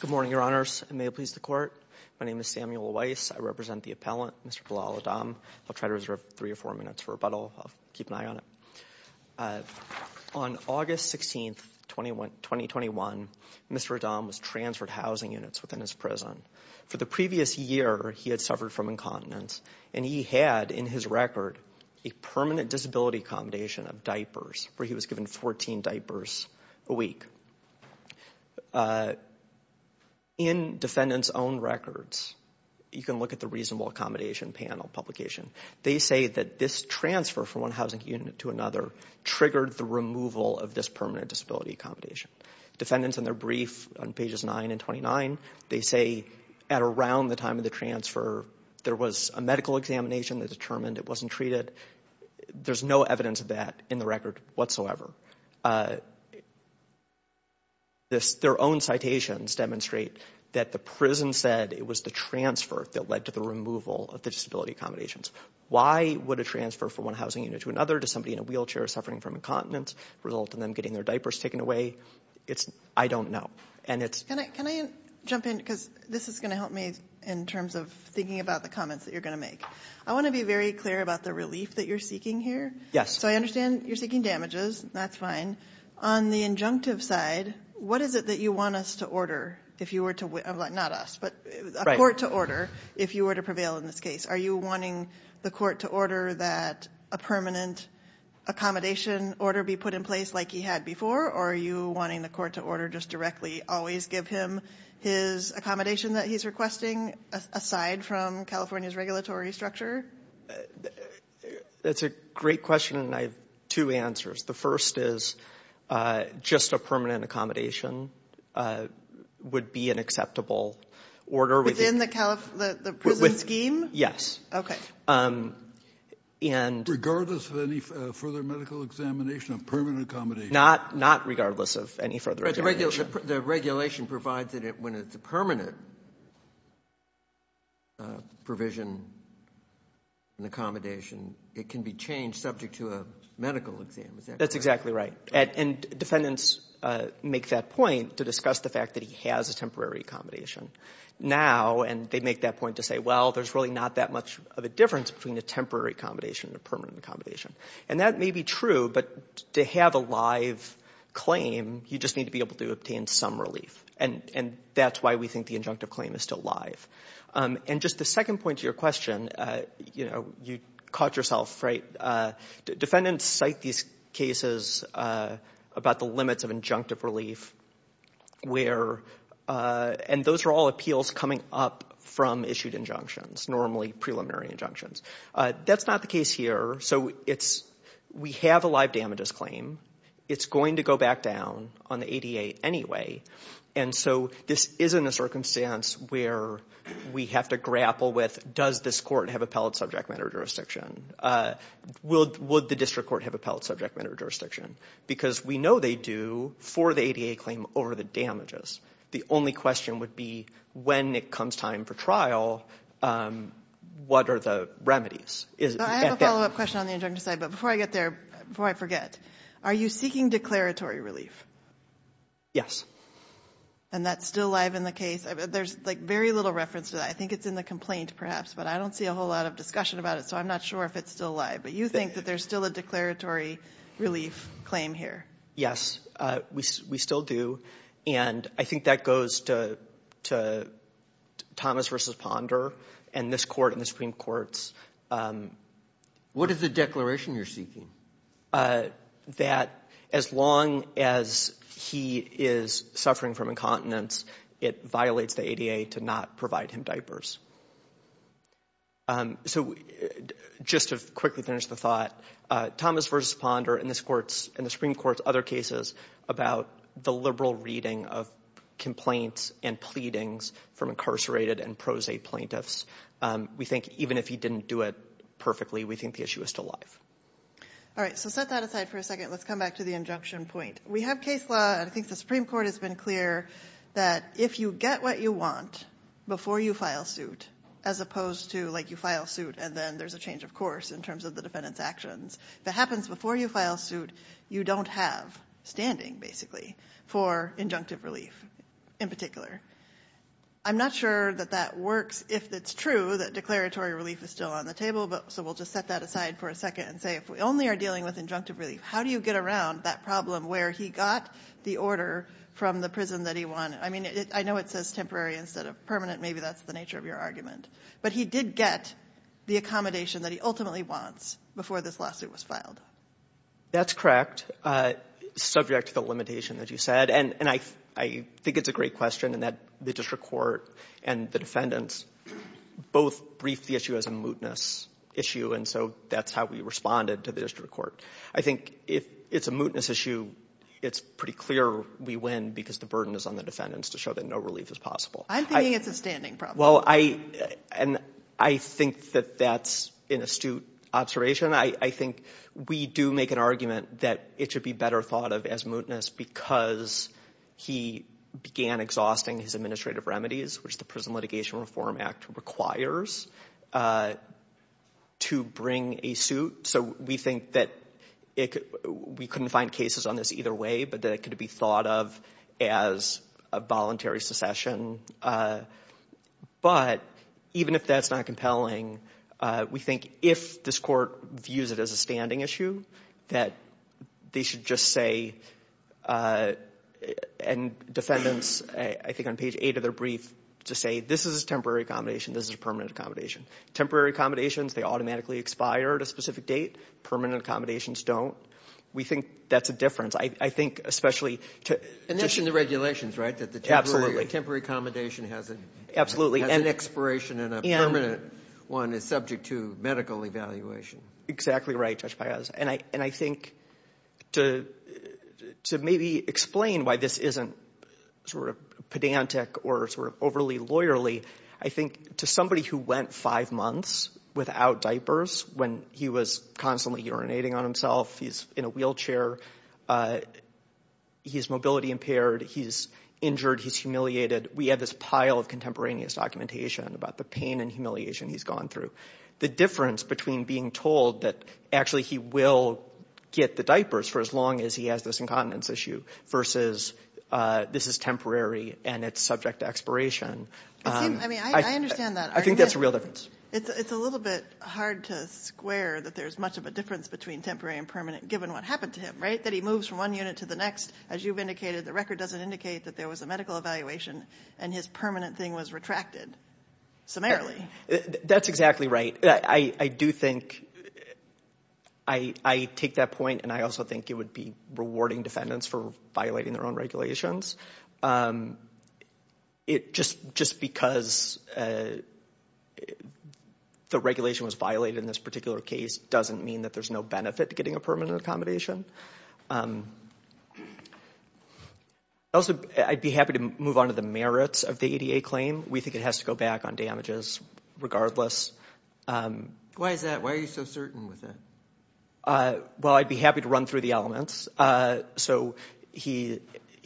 Good morning, your honors. May it please the court. My name is Samuel Weiss. I represent the appellant, Mr. Bilal Adom. I'll try to reserve three or four minutes for rebuttal. I'll keep an eye on it. On August 16, 2021, Mr. Adom was transferred housing units within his prison. For the previous year, he had suffered from incontinence and he had, in his record, a permanent disability accommodation of diapers, where he was given 14 diapers a week. In defendant's own records, you can look at the Reasonable Accommodation Panel publication. They say that this transfer from one housing unit to another triggered the removal of this permanent disability accommodation. Defendants in their brief on pages 9 and 29, they say at around the time of the transfer, there was a medical examination that determined it wasn't treated. There's no evidence of that in the record whatsoever. Their own citations demonstrate that the prison said it was the transfer that led to the removal of the disability accommodations. Why would a transfer from one housing unit to another, to somebody in a wheelchair suffering from incontinence, result in them getting their diapers taken away? I don't know. Can I jump in, because this is going to help me in terms of thinking about the comments that you're going to make. I want to be very clear about the relief that you're seeking here. So I understand you're seeking damages. That's fine. On the injunctive side, what is it that you want us to order, if you were to, not us, but a court to order, if you were to prevail in this case? Are you wanting the court to order that a permanent accommodation order be put in place like he had before, or are you wanting the court to order just directly always give him his accommodation that he's requesting, aside from California's regulatory structure? That's a great question, and I have two answers. The first is, just a permanent accommodation would be an acceptable order. Within the prison scheme? Yes. Regardless of any further medical examination, a permanent accommodation? Not regardless of any further examination. But the regulation provides that when it's a permanent provision, an accommodation, it can be changed subject to a medical exam. Is that correct? That's exactly right. And defendants make that point to discuss the fact that he has a temporary accommodation. Now, and they make that point to say, well, there's really not that much of a difference between a temporary accommodation and a permanent accommodation. And that may be true, but to have a live claim, you just need to be able to obtain some relief, and that's why we think the injunctive claim is still live. And just the second point to your question, you caught yourself, right? Defendants cite these cases about the limits of injunctive relief, where, and those are all appeals coming up from issued injunctions, normally preliminary injunctions. That's not the case here. So it's, we have a live damages claim. It's going to go back down on the ADA anyway. And so this isn't a circumstance where we have to grapple with, does this court have appellate subject matter jurisdiction? Would the district court have appellate subject matter jurisdiction? Because we know they do for the ADA claim over the damages. The only question would be when it comes time for trial, what are the remedies? I have a follow-up question on the injunctive side, but before I get there, before I forget, are you seeking declaratory relief? Yes. And that's still live in the case? There's like very little reference to that. I think it's in the complaint perhaps, but I don't see a whole lot of discussion about it. So I'm not sure if it's still live, but you think that there's still a declaratory relief claim here? Yes, we still do. And I think that goes to Thomas v. Ponder and this court and the Supreme Courts. What is the declaration you're seeking? That as long as he is suffering from incontinence, it violates the ADA to not provide him diapers. So just to quickly finish the thought, Thomas v. Ponder and this court and the Supreme Courts and other cases about the liberal reading of complaints and pleadings from incarcerated and pro se plaintiffs, we think even if he didn't do it perfectly, we think the issue is still live. All right, so set that aside for a second. Let's come back to the injunction point. We have case law and I think the Supreme Court has been clear that if you get what you want before you file suit, as opposed to like you file suit and then there's a change of course in terms of the defendant's actions, if it happens before you file suit, you don't have standing basically for injunctive relief in particular. I'm not sure that that works. If it's true that declaratory relief is still on the table, so we'll just set that aside for a second and say if we only are dealing with injunctive relief, how do you get around that problem where he got the order from the prison that he won? I mean, I know it says temporary instead of permanent. Maybe that's the nature of your wants before this lawsuit was filed. That's correct. Subject to the limitation that you said and I think it's a great question and that the district court and the defendants both briefed the issue as a mootness issue and so that's how we responded to the district court. I think if it's a mootness issue, it's pretty clear we win because the burden is on the defendants to show that no relief is possible. I'm thinking it's a standing problem. Well, I think that that's an astute observation. I think we do make an argument that it should be better thought of as mootness because he began exhausting his administrative remedies, which the Prison Litigation Reform Act requires to bring a suit. So we think that we couldn't find cases on this either way but that it could be thought of as a voluntary secession. But even if that's not compelling, we think if this court views it as a standing issue that they should just say and defendants, I think on page 8 of their brief, to say this is a temporary accommodation, this is a permanent accommodation. Temporary accommodations, they think that's a difference. And that's in the regulations, right? That the temporary accommodation has an expiration and a permanent one is subject to medical evaluation. Exactly right, Judge Piazza. And I think to maybe explain why this isn't pedantic or overly lawyerly, I think to somebody who went five months without diapers when he was constantly urinating on himself, he's in a wheelchair, he's mobility impaired, he's injured, he's humiliated, we have this pile of contemporaneous documentation about the pain and humiliation he's gone through. The difference between being told that actually he will get the diapers for as long as he has this incontinence issue versus this is temporary and it's subject to expiration. I understand that argument. I think that's a real difference. It's a little bit hard to square that there's much of a difference between temporary and permanent given what happened to him, right? That he moves from one unit to the next. As you've indicated, the record doesn't indicate that there was a medical evaluation and his permanent thing was retracted summarily. That's exactly right. I do think, I take that point and I also think it would be rewarding defendants for violating their own regulations. Just because the regulation was violated in this particular case doesn't mean that there's no benefit to getting a permanent accommodation. Also, I'd be happy to move on to the merits of the ADA claim. We think it has to go back on damages regardless. Why is that? Why are you so certain with that? Well, I'd be happy to run through the elements. So,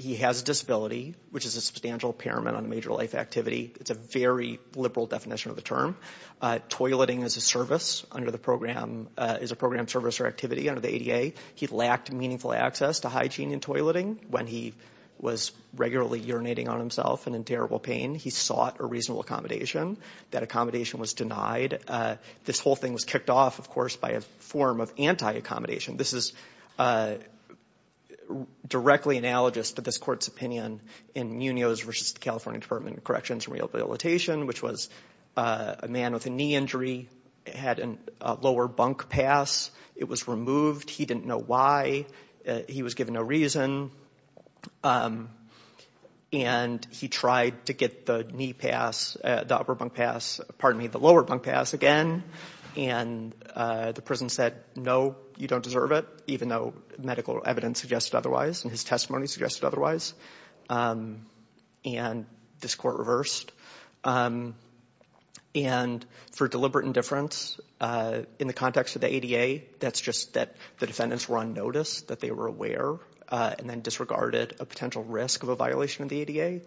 he has a disability, which is a substantial impairment on a major life activity. It's a very liberal definition of the term. Toileting is a service under the program, is a program service or activity under the ADA. He lacked meaningful access to hygiene and toileting when he was regularly urinating on himself and in terrible pain. He sought a reasonable accommodation. That accommodation was denied. This whole thing was kicked off, of course, by a form of anti-accommodation. This is directly analogous to this court's opinion in Munoz v. California Department of Corrections and Rehabilitation, which was a man with a knee injury had a lower bunk pass. It was removed. He didn't know why. He was given no reason. And he tried to get the knee pass, the upper bunk pass, again. And the prison said, no, you don't deserve it, even though medical evidence suggested otherwise and his testimony suggested otherwise. And this court reversed. And for deliberate indifference in the context of the ADA, that's just that the defendants were on notice, that they were aware, and then disregarded a potential risk of a violation of the ADA.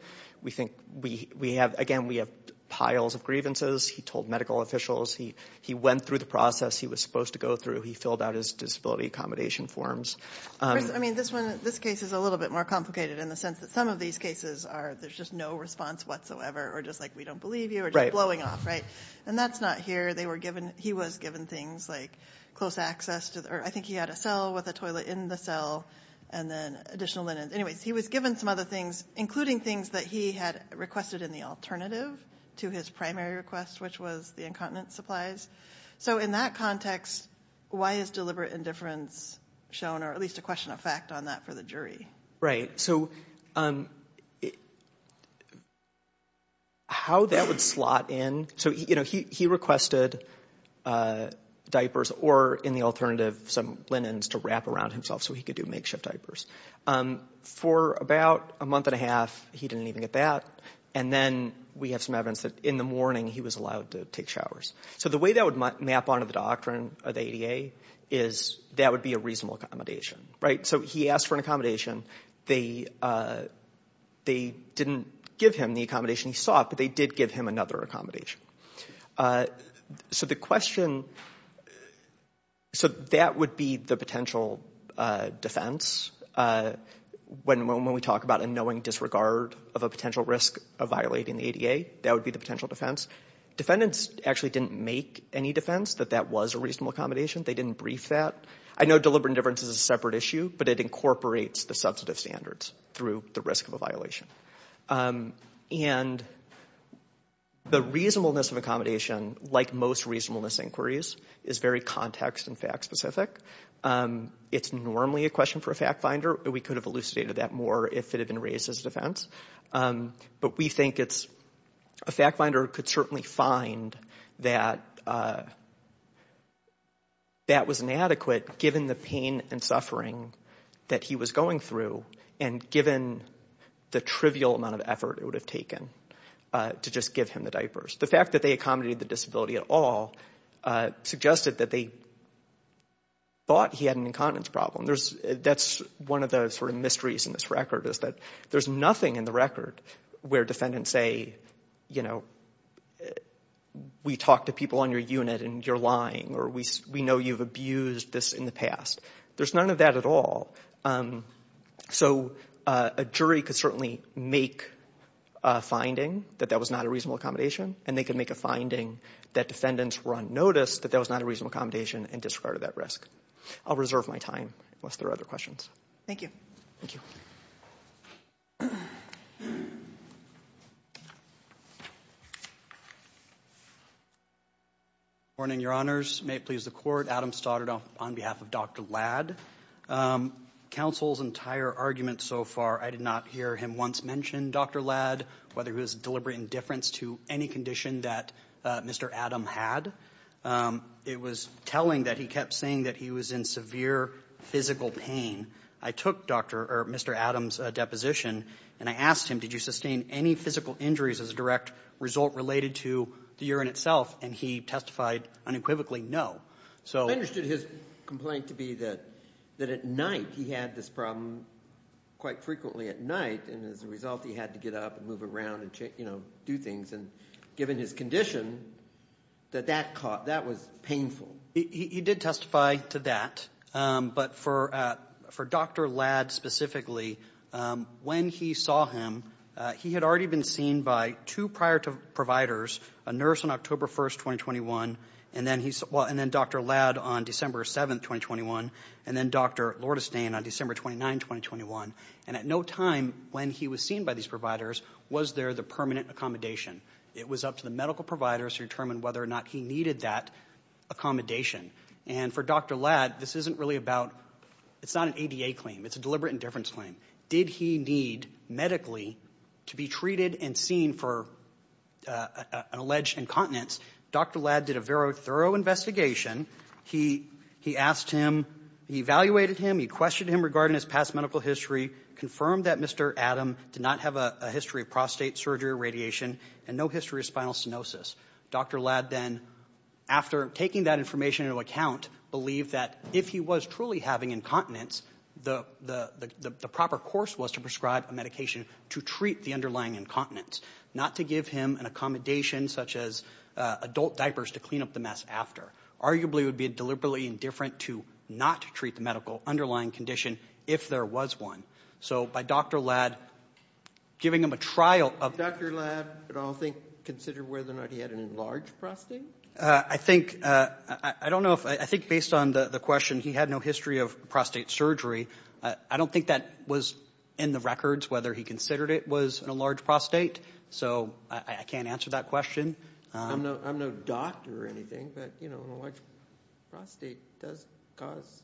Again, we have piles of grievances. He told medical officials. He went through the process he was supposed to go through. He filled out his disability accommodation forms. First, I mean, this case is a little bit more complicated in the sense that some of these cases are, there's just no response whatsoever, or just like, we don't believe you, or just blowing off, right? And that's not here. He was given things like close access, or I think he had a cell with a toilet in the cell, and then additional linens. Anyways, he was given some other things, including things that he had requested in the alternative to his primary request, which was the incontinent supplies. So in that context, why is deliberate indifference shown, or at least a question of fact on that for the jury? Right. So how that would slot in, so he requested diapers, or in the alternative, some linens to wrap around himself so he could do makeshift diapers. For about a month and a half, he didn't even get that. And then we have some evidence that in the morning, he was allowed to take showers. So the way that would map onto the doctrine of the ADA is that would be a reasonable accommodation, right? So he asked for an accommodation. They didn't give him the accommodation he sought, but they did give him another accommodation. So the question, so that would be the potential defense. When we talk about a knowing disregard of a potential risk of violating the ADA, that would be the potential defense. Defendants actually didn't make any defense that that was a reasonable accommodation. They didn't brief that. I know deliberate indifference is a separate issue, but it incorporates the substantive standards through the risk of a violation. And the reasonableness of accommodation, like most reasonableness inquiries, is very context and fact specific. It's normally a question for a fact finder. We could have elucidated that more if it had been raised as a defense. But we think it's, a fact finder could certainly find that that was inadequate given the pain and suffering that he was going through and given the trivial amount of effort it would have taken to just give him the diapers. The fact that they accommodated the disability at all suggested that they thought he had an incontinence problem. That's one of the sort of mysteries in this record is that there's nothing in the record where defendants say, you know, we talked to people on your unit and you're lying or we know you've abused this in the past. There's none of that at all. So a jury could certainly make a finding that that was not a reasonable accommodation and they could make a finding that defendants were on notice that that was not a reasonable accommodation and disregarded that risk. I'll reserve my time unless there are other questions. Thank you. Thank you. Your Honors, may it please the Court, Adam Stoddard on behalf of Dr. Ladd. Counsel's entire argument so far, I did not hear him once mention Dr. Ladd, whether it was deliberate indifference to any condition that Mr. Adam had. It was telling that he kept saying that he was in severe physical pain. I took Dr. or Mr. Adam's deposition and I asked him, did you sustain any physical injuries as a direct result related to the urine itself? And he testified unequivocally, no. So I understood his complaint to be that at night he had this problem quite frequently at night. And as a result, he had to get up and move around and, you know, do things. And given his condition, that that caught, that was painful. He did testify to that. But for Dr. Ladd specifically, when he saw him, he had already been seen by two prior providers, a nurse on October 1st, 2021, and then Dr. Ladd on December 7th, 2021, and then Dr. Lordestain on December 29th, 2021. And at no time when he was seen by these providers was there the permanent accommodation. It was up to the medical providers to determine whether or not he needed that accommodation. And for Dr. Ladd, this isn't really about, it's not an ADA claim. It's a deliberate indifference claim. Did he need medically to be treated and seen for an alleged incontinence? Dr. Ladd did a very thorough investigation. He asked him, he evaluated him, he questioned him regarding his past medical history, confirmed that Mr. Adam did not have a history of prostate surgery or radiation and no history of spinal stenosis. Dr. Ladd then, after taking that information into account, believed that if he was truly having incontinence, the proper course was to prescribe a medication to treat the underlying incontinence, not to give him an accommodation such as adult diapers to clean up the mess after. Arguably, it would be a deliberately indifferent to not treat the medical underlying condition if there was one. So by Dr. Ladd giving him a trial of... Did Dr. Ladd, I don't think, consider whether or not he had an enlarged prostate? I think, I don't know if, I think based on the question, he had no history of prostate surgery. I don't think that was in the records whether he considered it was an enlarged prostate. So I can't answer that question. I'm no doctor or anything, but enlarged prostate does cause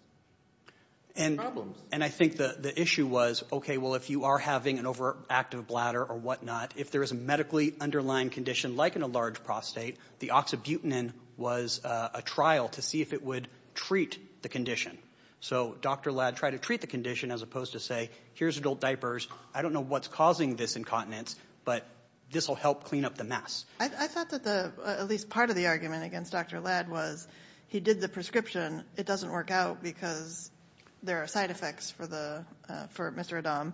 problems. And I think the issue was, okay, well if you are having an overactive bladder or whatnot, if there is a medically underlying condition like an enlarged prostate, the oxybutynin was a trial to see if it would treat the condition. So Dr. Ladd tried to treat the condition as opposed to say, here's adult diapers, I don't know what's causing this incontinence, but this will help clean up the mess. I thought that the, at least part of the argument against Dr. Ladd was he did the prescription, it doesn't work out because there are side effects for Mr. Adam,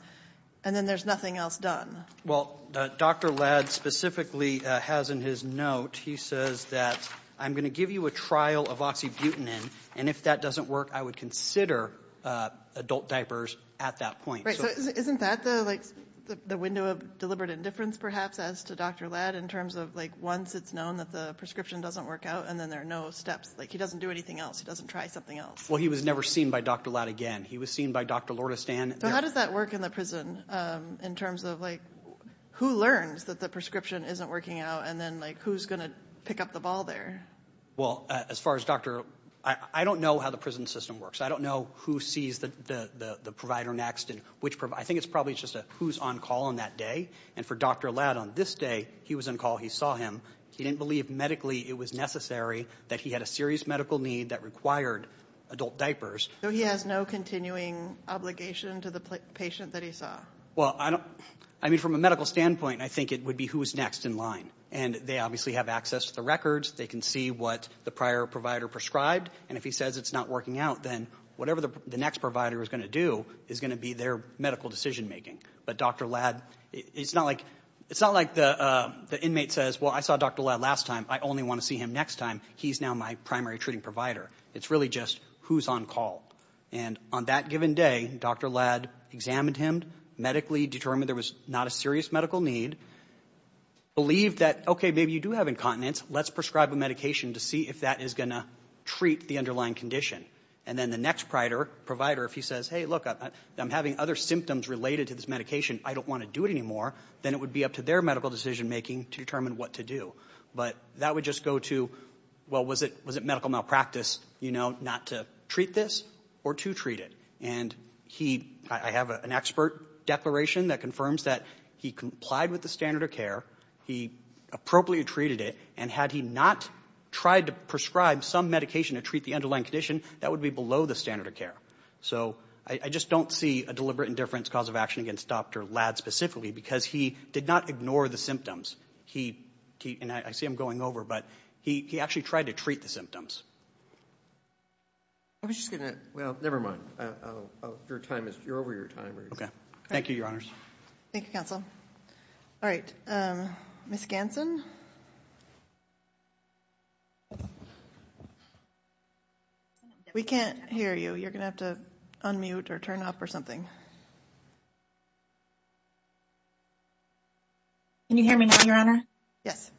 and then there's nothing else done. Well, Dr. Ladd specifically has in his note, he says that I'm going to give you a trial of oxybutynin, and if that doesn't work, I would consider adult diapers at that point. Right, so isn't that the window of deliberate indifference perhaps as to Dr. Ladd in terms of like once it's known that the prescription doesn't work out, and then there are no steps, like he doesn't do anything else, he doesn't try something else. Well, he was never seen by Dr. Ladd again. He was seen by Dr. Lordestan. So how does that work in the prison in terms of like who learns that the prescription isn't working out, and then like who's going to pick up the ball there? Well, as far as Dr., I don't know how the prison system works. I don't know who sees the provider next, and which, I think it's probably just a who's on call on that day, and for Dr. Ladd on this day, he was on call, he saw him. He didn't believe medically it was necessary that he had a serious medical need that required adult diapers. So he has no continuing obligation to the patient that he saw? Well, I don't, I mean from a medical standpoint, I think it would be who's next in line, and they obviously have access to the records. They can see what the prior provider prescribed, and if he says it's not working out, then whatever the next provider is going to do is going to be their medical decision making. But Dr. Ladd, it's not like the inmate says, well, I saw Dr. Ladd last time. I only want to see him next time. He's now my primary treating provider. It's really just who's on call, and on that given day, Dr. Ladd examined him medically, determined there was not a serious medical need, believed that, okay, maybe you do have incontinence. Let's prescribe a medication to see if that is going to treat the underlying condition. And then the next provider, if he says, hey, look, I'm having other symptoms related to this medication. I don't want to do it anymore. Then it would be up to their medical decision making to determine what to do. But that would just go to, well, was it medical malpractice, you know, not to treat this or to treat it? And I have an expert declaration that confirms that he complied with the standard of care. He appropriately treated it, and had he not tried to prescribe some medication to treat the underlying condition, that would be below the standard of care. So I just don't see a deliberate indifference cause of action against Dr. Ladd specifically, because he did not ignore the symptoms. He, and I see him going over, but he actually tried to treat the symptoms. I was just going to, well, never mind. Your time is, you're over your time. Okay. Thank you, Your Honors. Thank you, counsel. All right. Ms. Gansen. We can't hear you. You're going to have to unmute or turn up or something. Can you hear me now, Your Honor? Yes.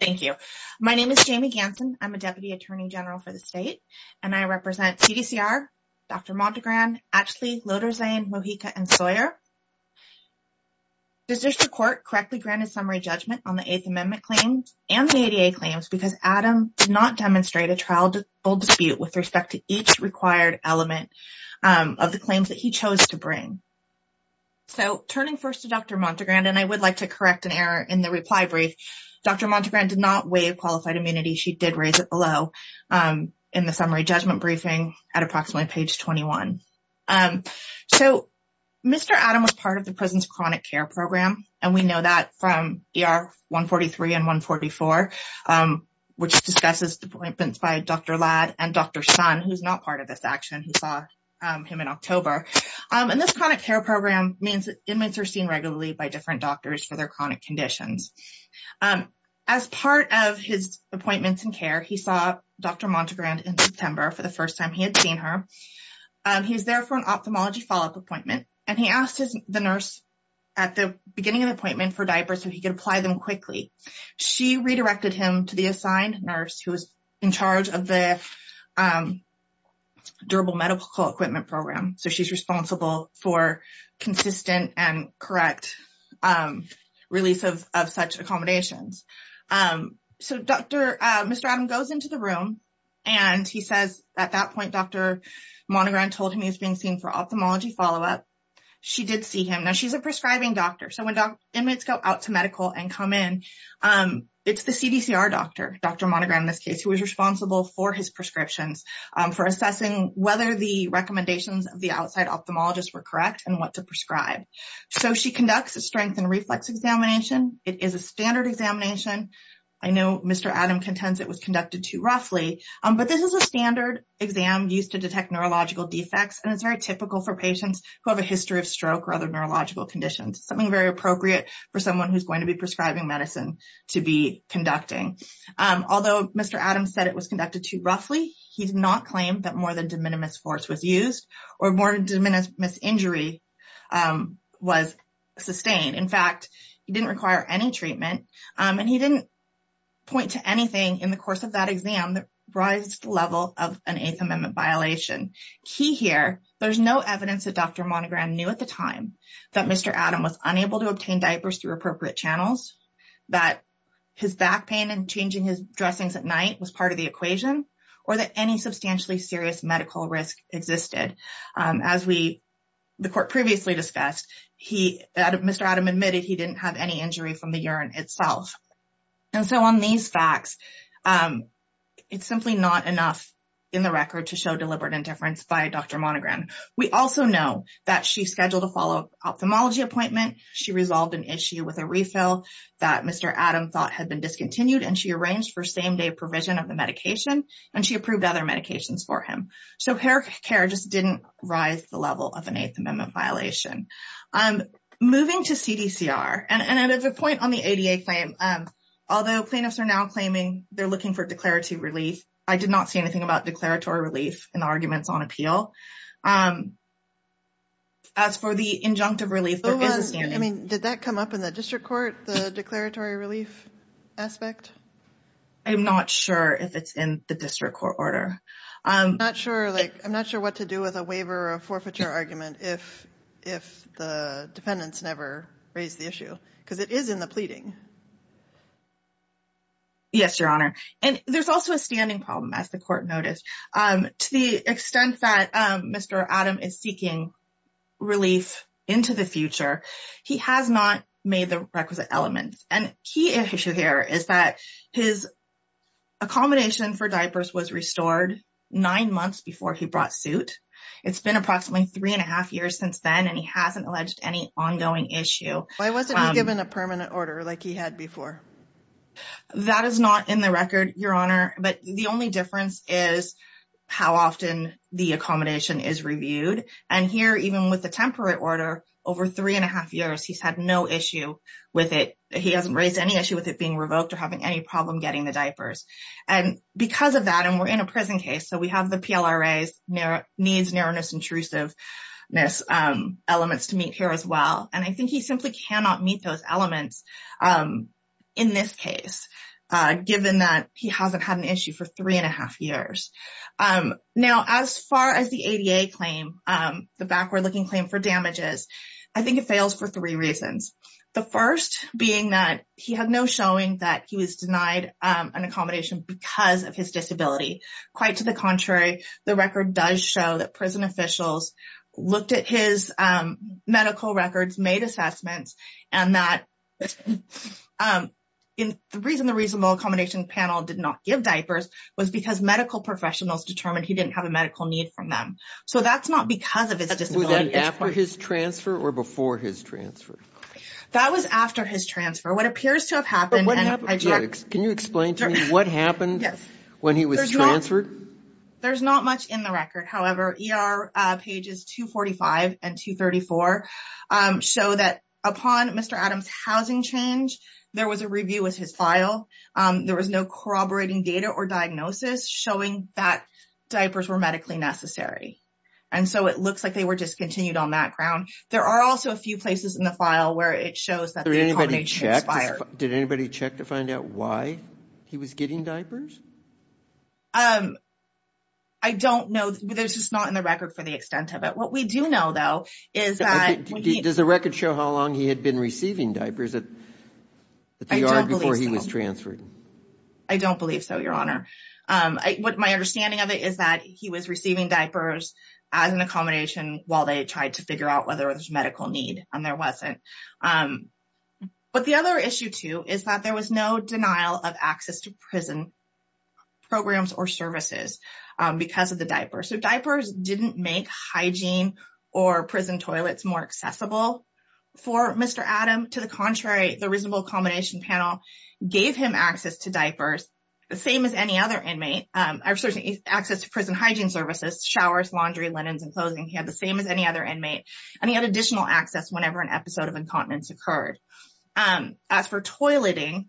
Thank you. My name is Jamie Gansen. I'm a Deputy Attorney General for the state, and I represent CDCR, Dr. Maldegran, Ashley, Loderzain, Mojica, and Sawyer. The court correctly granted summary judgment on the Eighth Amendment claims and the ADA claims because Adam did not demonstrate a trial full dispute with respect to each required element of the claims that he chose to bring. So turning first to Dr. Maldegran, and I would like to correct an error in the reply brief. Dr. Maldegran did not waive qualified immunity. She did raise it below in the summary judgment briefing at approximately page 21. So Mr. Adam was part of the prison's chronic care program, and we know that from ER 143 and 144, which discusses the appointments by Dr. Ladd and Dr. Sun, who's not part of this action, who saw him in October. And this chronic care program means that inmates are seen regularly by different Dr. Maldegran in September for the first time he had seen her. He was there for an ophthalmology follow-up appointment, and he asked the nurse at the beginning of the appointment for diapers so he could apply them quickly. She redirected him to the assigned nurse who was in charge of the durable medical equipment program. So she's responsible for consistent and correct release of such accommodations. So Mr. Adam goes into the room, and he says, at that point, Dr. Maldegran told him he was being seen for ophthalmology follow-up. She did see him. Now, she's a prescribing doctor. So when inmates go out to medical and come in, it's the CDCR doctor, Dr. Maldegran in this case, who was responsible for his prescriptions, for assessing whether the recommendations of the outside ophthalmologist were correct and what to prescribe. So she conducts a strength and reflex examination. It is a standard examination. I know Mr. Adam contends it was conducted too roughly, but this is a standard exam used to detect neurological defects, and it's very typical for patients who have a history of stroke or other neurological conditions, something very appropriate for someone who's going to be prescribing medicine to be conducting. Although Mr. Adam said it was conducted too roughly, he did not claim that more than de minimis force was used or more than de minimis injury was sustained. In fact, he didn't require any treatment, and he didn't point to anything in the course of that exam that rises to the level of an Eighth Amendment violation. Key here, there's no evidence that Dr. Maldegran knew at the time that Mr. Adam was unable to obtain diapers through appropriate channels, that his back pain and changing his dressings at night was part of the equation, or that any serious medical risk existed. As the court previously discussed, Mr. Adam admitted he didn't have any injury from the urine itself. And so on these facts, it's simply not enough in the record to show deliberate indifference by Dr. Maldegran. We also know that she scheduled a follow-up ophthalmology appointment. She resolved an issue with a refill that Mr. Adam thought had been discontinued, and she arranged for same-day provision of the medication, and she approved other medications for him. So her care just didn't rise to the level of an Eighth Amendment violation. Moving to CDCR, and there's a point on the ADA claim. Although plaintiffs are now claiming they're looking for declarative relief, I did not see anything about declaratory relief in the arguments on appeal. As for the injunctive relief, there is a standing. I mean, did that come up in the district court, the declaratory relief aspect? I'm not sure if it's in the district court order. I'm not sure what to do with a waiver or a forfeiture argument if the defendants never raise the issue, because it is in the pleading. Yes, Your Honor. And there's also a standing problem, as the court noticed. To the extent that Mr. Adam is seeking relief into the future, he has not made the requisite element. And a key issue here is that his accommodation for diapers was restored nine months before he brought suit. It's been approximately three and a half years since then, and he hasn't alleged any ongoing issue. Why wasn't he given a permanent order like he had before? That is not in the record, Your Honor. But the only difference is how often the accommodation is reviewed. And here, even with the temporary order, over three and a half years, he's had no issue with it. He hasn't raised any issue with it being revoked or having any problem getting the diapers. And because of that, and we're in a prison case, so we have the PLRA's needs, narrowness, intrusiveness elements to meet here as well. And I think he simply cannot meet those elements in this case, given that he hasn't had an issue for three and a half years. Now, as far as the ADA claim, the backward-looking claim for damages, I think it fails for three reasons. The first being that he had no showing that he was denied an accommodation because of his disability. Quite to the contrary, the record does show that prison officials looked at his medical records, made assessments, and that the reason the reasonable accommodation panel did not give diapers was because medical professionals determined he didn't have a medical need from them. So that's not because of his disability. After his transfer or before his transfer? That was after his transfer. What appears to have happened... Can you explain to me what happened when he was transferred? There's not much in the record. However, ER pages 245 and 234 show that upon Mr. Adams' housing change, there was a review with his file. There was no corroborating data or diagnosis showing that diapers were medically necessary. And so it looks like they were discontinued on that ground. There are also a few places in the file where it shows that the accommodation expired. Did anybody check to find out why he was getting diapers? I don't know. There's just not in the record for the extent of it. What we do know, though, is that... Does the record show how long he had been receiving diapers at the ER before he was transferred? I don't believe so, Your Honor. What my understanding of it is that he was receiving diapers as an accommodation while they tried to figure out whether there was medical need, and there wasn't. But the other issue, too, is that there was no denial of access to prison programs or services because of the diapers. So diapers didn't make hygiene or prison toilets more accessible for Mr. Adams. To the contrary, the reasonable accommodation panel gave him access to same as any other inmate. Access to prison hygiene services, showers, laundry, linens, and clothing. He had the same as any other inmate. And he had additional access whenever an episode of incontinence occurred. As for toileting,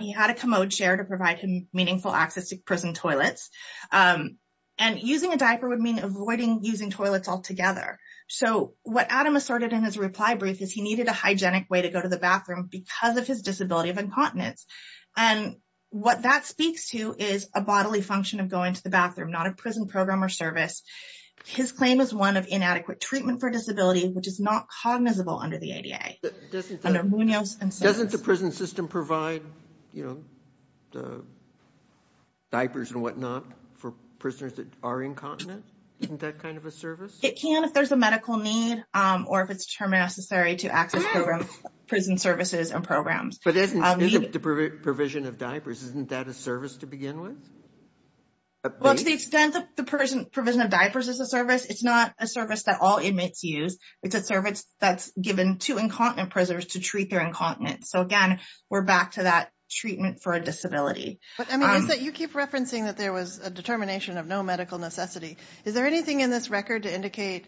he had a commode chair to provide him meaningful access to prison toilets. And using a diaper would mean avoiding using toilets altogether. So what Adam asserted in his reply brief is he needed a hygienic way to go to the bathroom because of his disability of incontinence. And what that speaks to is a bodily function of going to the bathroom, not a prison program or service. His claim is one of inadequate treatment for disability, which is not cognizable under the ADA. Under Munoz and Sons. Doesn't the prison system provide, you know, diapers and whatnot for prisoners that are incontinent? Isn't that kind of a service? It can if there's a medical need or if it's necessary to access prison services and programs. But isn't the provision of diapers, isn't that a service to begin with? Well, to the extent that the provision of diapers is a service, it's not a service that all inmates use. It's a service that's given to incontinent prisoners to treat their incontinence. So again, we're back to that treatment for a disability. But I mean, you keep referencing that there was a determination of no medical necessity. Is there anything in this record to indicate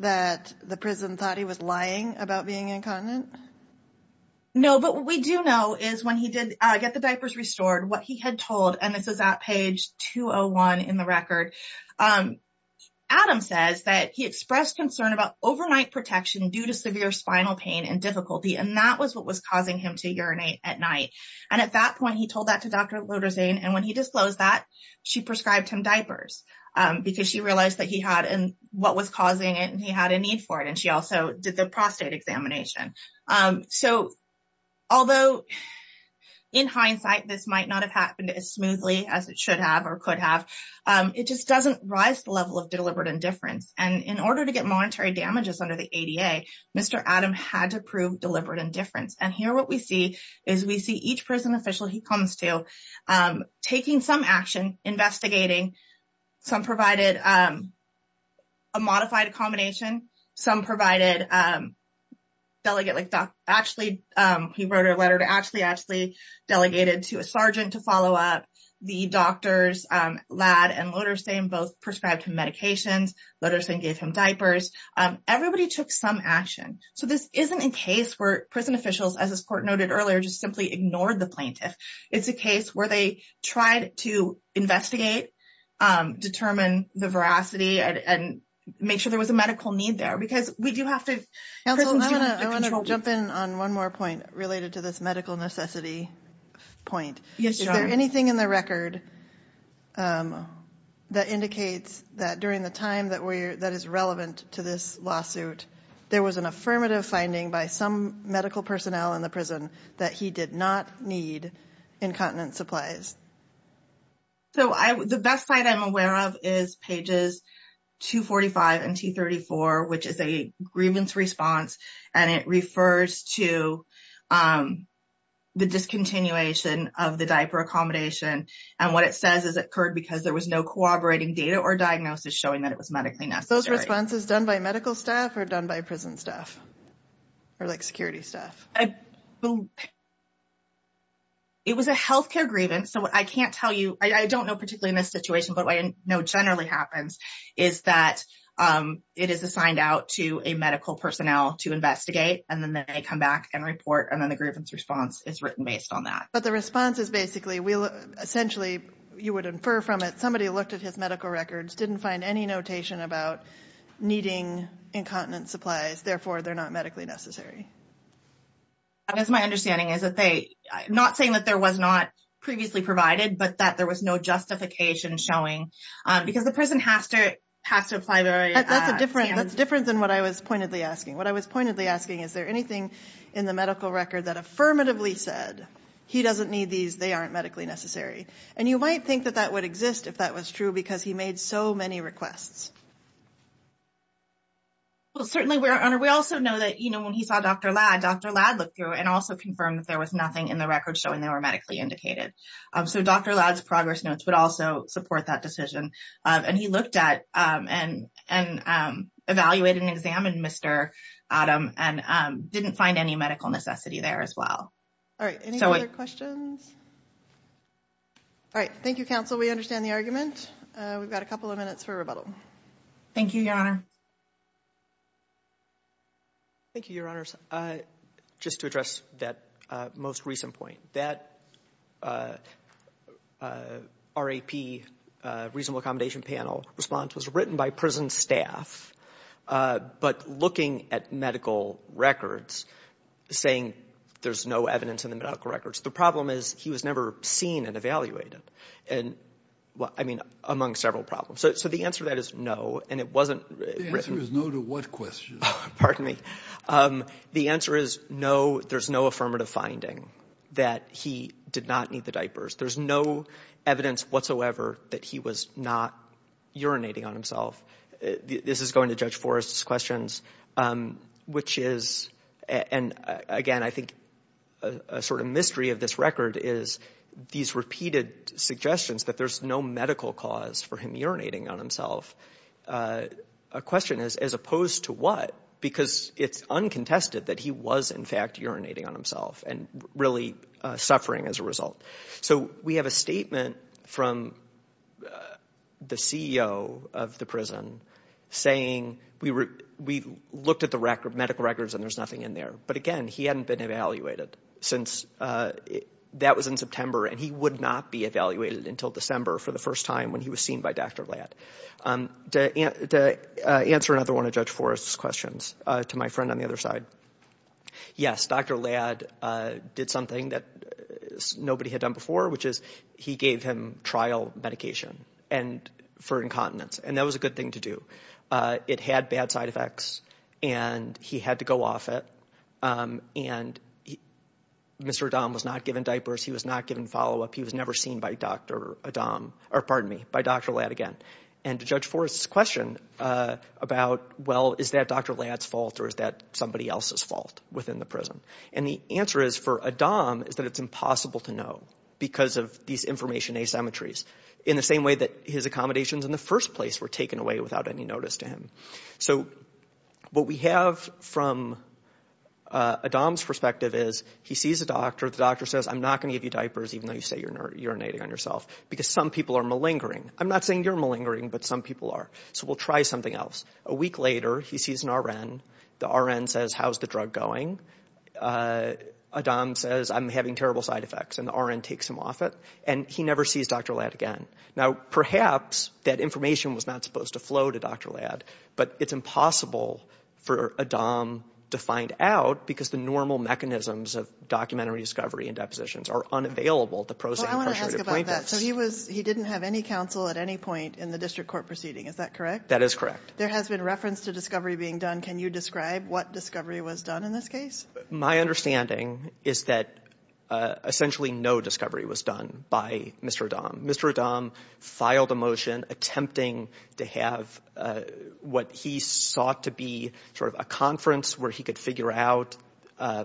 that the prison thought he was lying about being incontinent? No, but what we do know is when he did get the diapers restored, what he had told, and this is at page 201 in the record, Adam says that he expressed concern about overnight protection due to severe spinal pain and difficulty. And that was what was causing him to urinate at night. And at that point, he told that to Dr. Loderzain. And when he disclosed that, she prescribed him diapers because she realized that he had and what was causing it and he had a need for it. And she also did the prostate examination. So, although in hindsight, this might not have happened as smoothly as it should have or could have, it just doesn't rise the level of deliberate indifference. And in order to get monetary damages under the ADA, Mr. Adam had to prove deliberate indifference. And here, what we see is we see each prison official he comes to taking some action, investigating. Some provided a modified accommodation. Some provided delegate, like actually, he wrote a letter to actually delegated to a sergeant to follow up. The doctors, Lad and Loderzain, both prescribed him medications. Loderzain gave him diapers. Everybody took some action. So, this isn't a case where prison officials, as this court noted earlier, just simply ignored the plaintiff. It's a case where they tried to investigate, determine the veracity and make sure there was a medical need there. Because we do have to... I want to jump in on one more point related to this medical necessity point. Is there anything in the record that indicates that during the time that is relevant to this lawsuit, there was an affirmative finding by some medical personnel in the prison that he did not need incontinent supplies? So, the best site I'm aware of is pages 245 and 234, which is a grievance response. And it refers to the discontinuation of the diaper accommodation. And what it says is it occurred because there was no corroborating data or diagnosis showing that it was medically necessary. Those responses done by medical staff or done by prison staff or security staff? It was a healthcare grievance. So, I can't tell you. I don't know particularly in this situation, but what I know generally happens is that it is assigned out to a medical personnel to investigate and then they come back and report. And then the grievance response is written based on that. But the response is basically, essentially, you would infer from it, somebody looked at medical records, didn't find any notation about needing incontinent supplies. Therefore, they're not medically necessary. And that's my understanding is that they, not saying that there was not previously provided, but that there was no justification showing, because the person has to apply their standards. That's different than what I was pointedly asking. What I was pointedly asking, is there anything in the medical record that affirmatively said, he doesn't need these, they aren't medically necessary? And you might think that that would be true because he made so many requests. Well, certainly, we also know that when he saw Dr. Ladd, Dr. Ladd looked through and also confirmed that there was nothing in the record showing they were medically indicated. So, Dr. Ladd's progress notes would also support that decision. And he looked at and evaluated and examined Mr. Adam and didn't find any medical necessity there as well. All right. Any other questions? All right. Thank you, counsel. We understand the argument. We've got a couple of minutes for rebuttal. Thank you, Your Honor. Thank you, Your Honors. Just to address that most recent point, that RAP, reasonable accommodation panel response was written by prison staff, but looking at medical records, saying there's no evidence in the medical records. The problem is, he was never seen and evaluated. I mean, among several problems. So, the answer to that is no, and it wasn't written. The answer is no to what question? Pardon me. The answer is no, there's no affirmative finding that he did not need the diapers. There's no evidence whatsoever that he was not urinating on himself. This is going to Judge Forrest's questions, which is, and again, I think a sort of mystery of this record is these repeated suggestions that there's no medical cause for him urinating on himself. A question is, as opposed to what? Because it's uncontested that he was, in fact, urinating on himself and really suffering as a result. So, we have a statement from the CEO of the prison saying, we looked at the medical records and there's nothing in there. But again, he hadn't been evaluated since that was in September, and he would not be evaluated until December for the first time when he was seen by Dr. Ladd. To answer another one of Judge Forrest's questions, to my friend on the other side. Yes, Dr. Ladd did something that nobody had done before, which is he gave him trial medication for incontinence, and that was a good thing to do. It had bad side effects, and he had to go off it. And Mr. Adam was not given diapers. He was not given follow-up. He was never seen by Dr. Adam, or pardon me, by Dr. Ladd again. And to Judge Forrest's question about, well, is that Dr. Ladd's fault or is that somebody else's within the prison? And the answer is, for Adam, is that it's impossible to know because of these information asymmetries. In the same way that his accommodations in the first place were taken away without any notice to him. So, what we have from Adam's perspective is, he sees a doctor. The doctor says, I'm not going to give you diapers even though you say you're urinating on yourself because some people are malingering. I'm not saying you're malingering, but some people are. So, we'll try something else. A week later, he sees an RN. The RN says, how's the drug going? Adam says, I'm having terrible side effects. And the RN takes him off it. And he never sees Dr. Ladd again. Now, perhaps that information was not supposed to flow to Dr. Ladd, but it's impossible for Adam to find out because the normal mechanisms of documentary discovery and depositions are unavailable to prosaic incarcerated plaintiffs. Well, I want to ask about that. So, he didn't have any counsel at any point in the district court proceeding. Is that correct? That is correct. There has been reference to discovery being done. Can you describe what discovery was done in this case? My understanding is that essentially, no discovery was done by Mr. Adam. Mr. Adam filed a motion attempting to have what he sought to be sort of a conference where he could figure out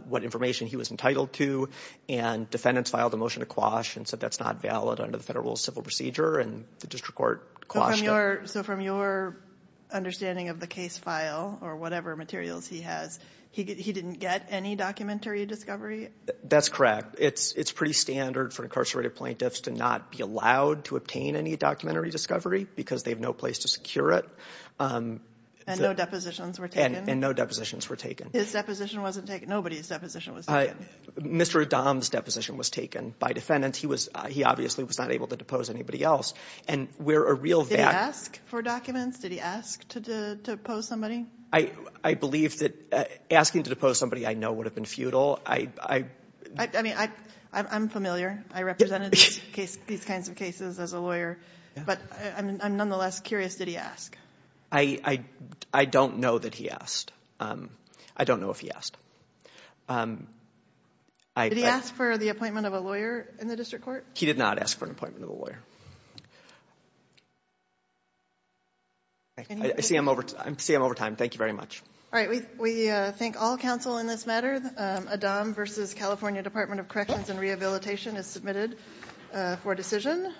what information he was entitled to. And defendants filed a motion to quash and said that's not valid under the federal civil procedure. And the district court quashed it. So, from your understanding of the case file or whatever materials he has, he didn't get any documentary discovery? That's correct. It's pretty standard for incarcerated plaintiffs to not be allowed to obtain any documentary discovery because they have no place to secure it. And no depositions were taken? And no depositions were taken. His deposition wasn't taken? Nobody's deposition was taken? Mr. Adam's deposition was taken by defendants. He obviously was not able to depose anybody else. And we're a real... Did he ask for documents? Did he ask to depose somebody? I believe that asking to depose somebody I know would have been futile. I'm familiar. I represented these kinds of cases as a lawyer. But I'm nonetheless curious. Did he ask? I don't know that he asked. I don't know if he asked. Did he ask for the appointment of a lawyer in the district court? He did not ask for an appointment of a lawyer. I see I'm over time. Thank you very much. All right. We thank all counsel in this matter. Adam v. California Department of Corrections and Rehabilitation is submitted for decision.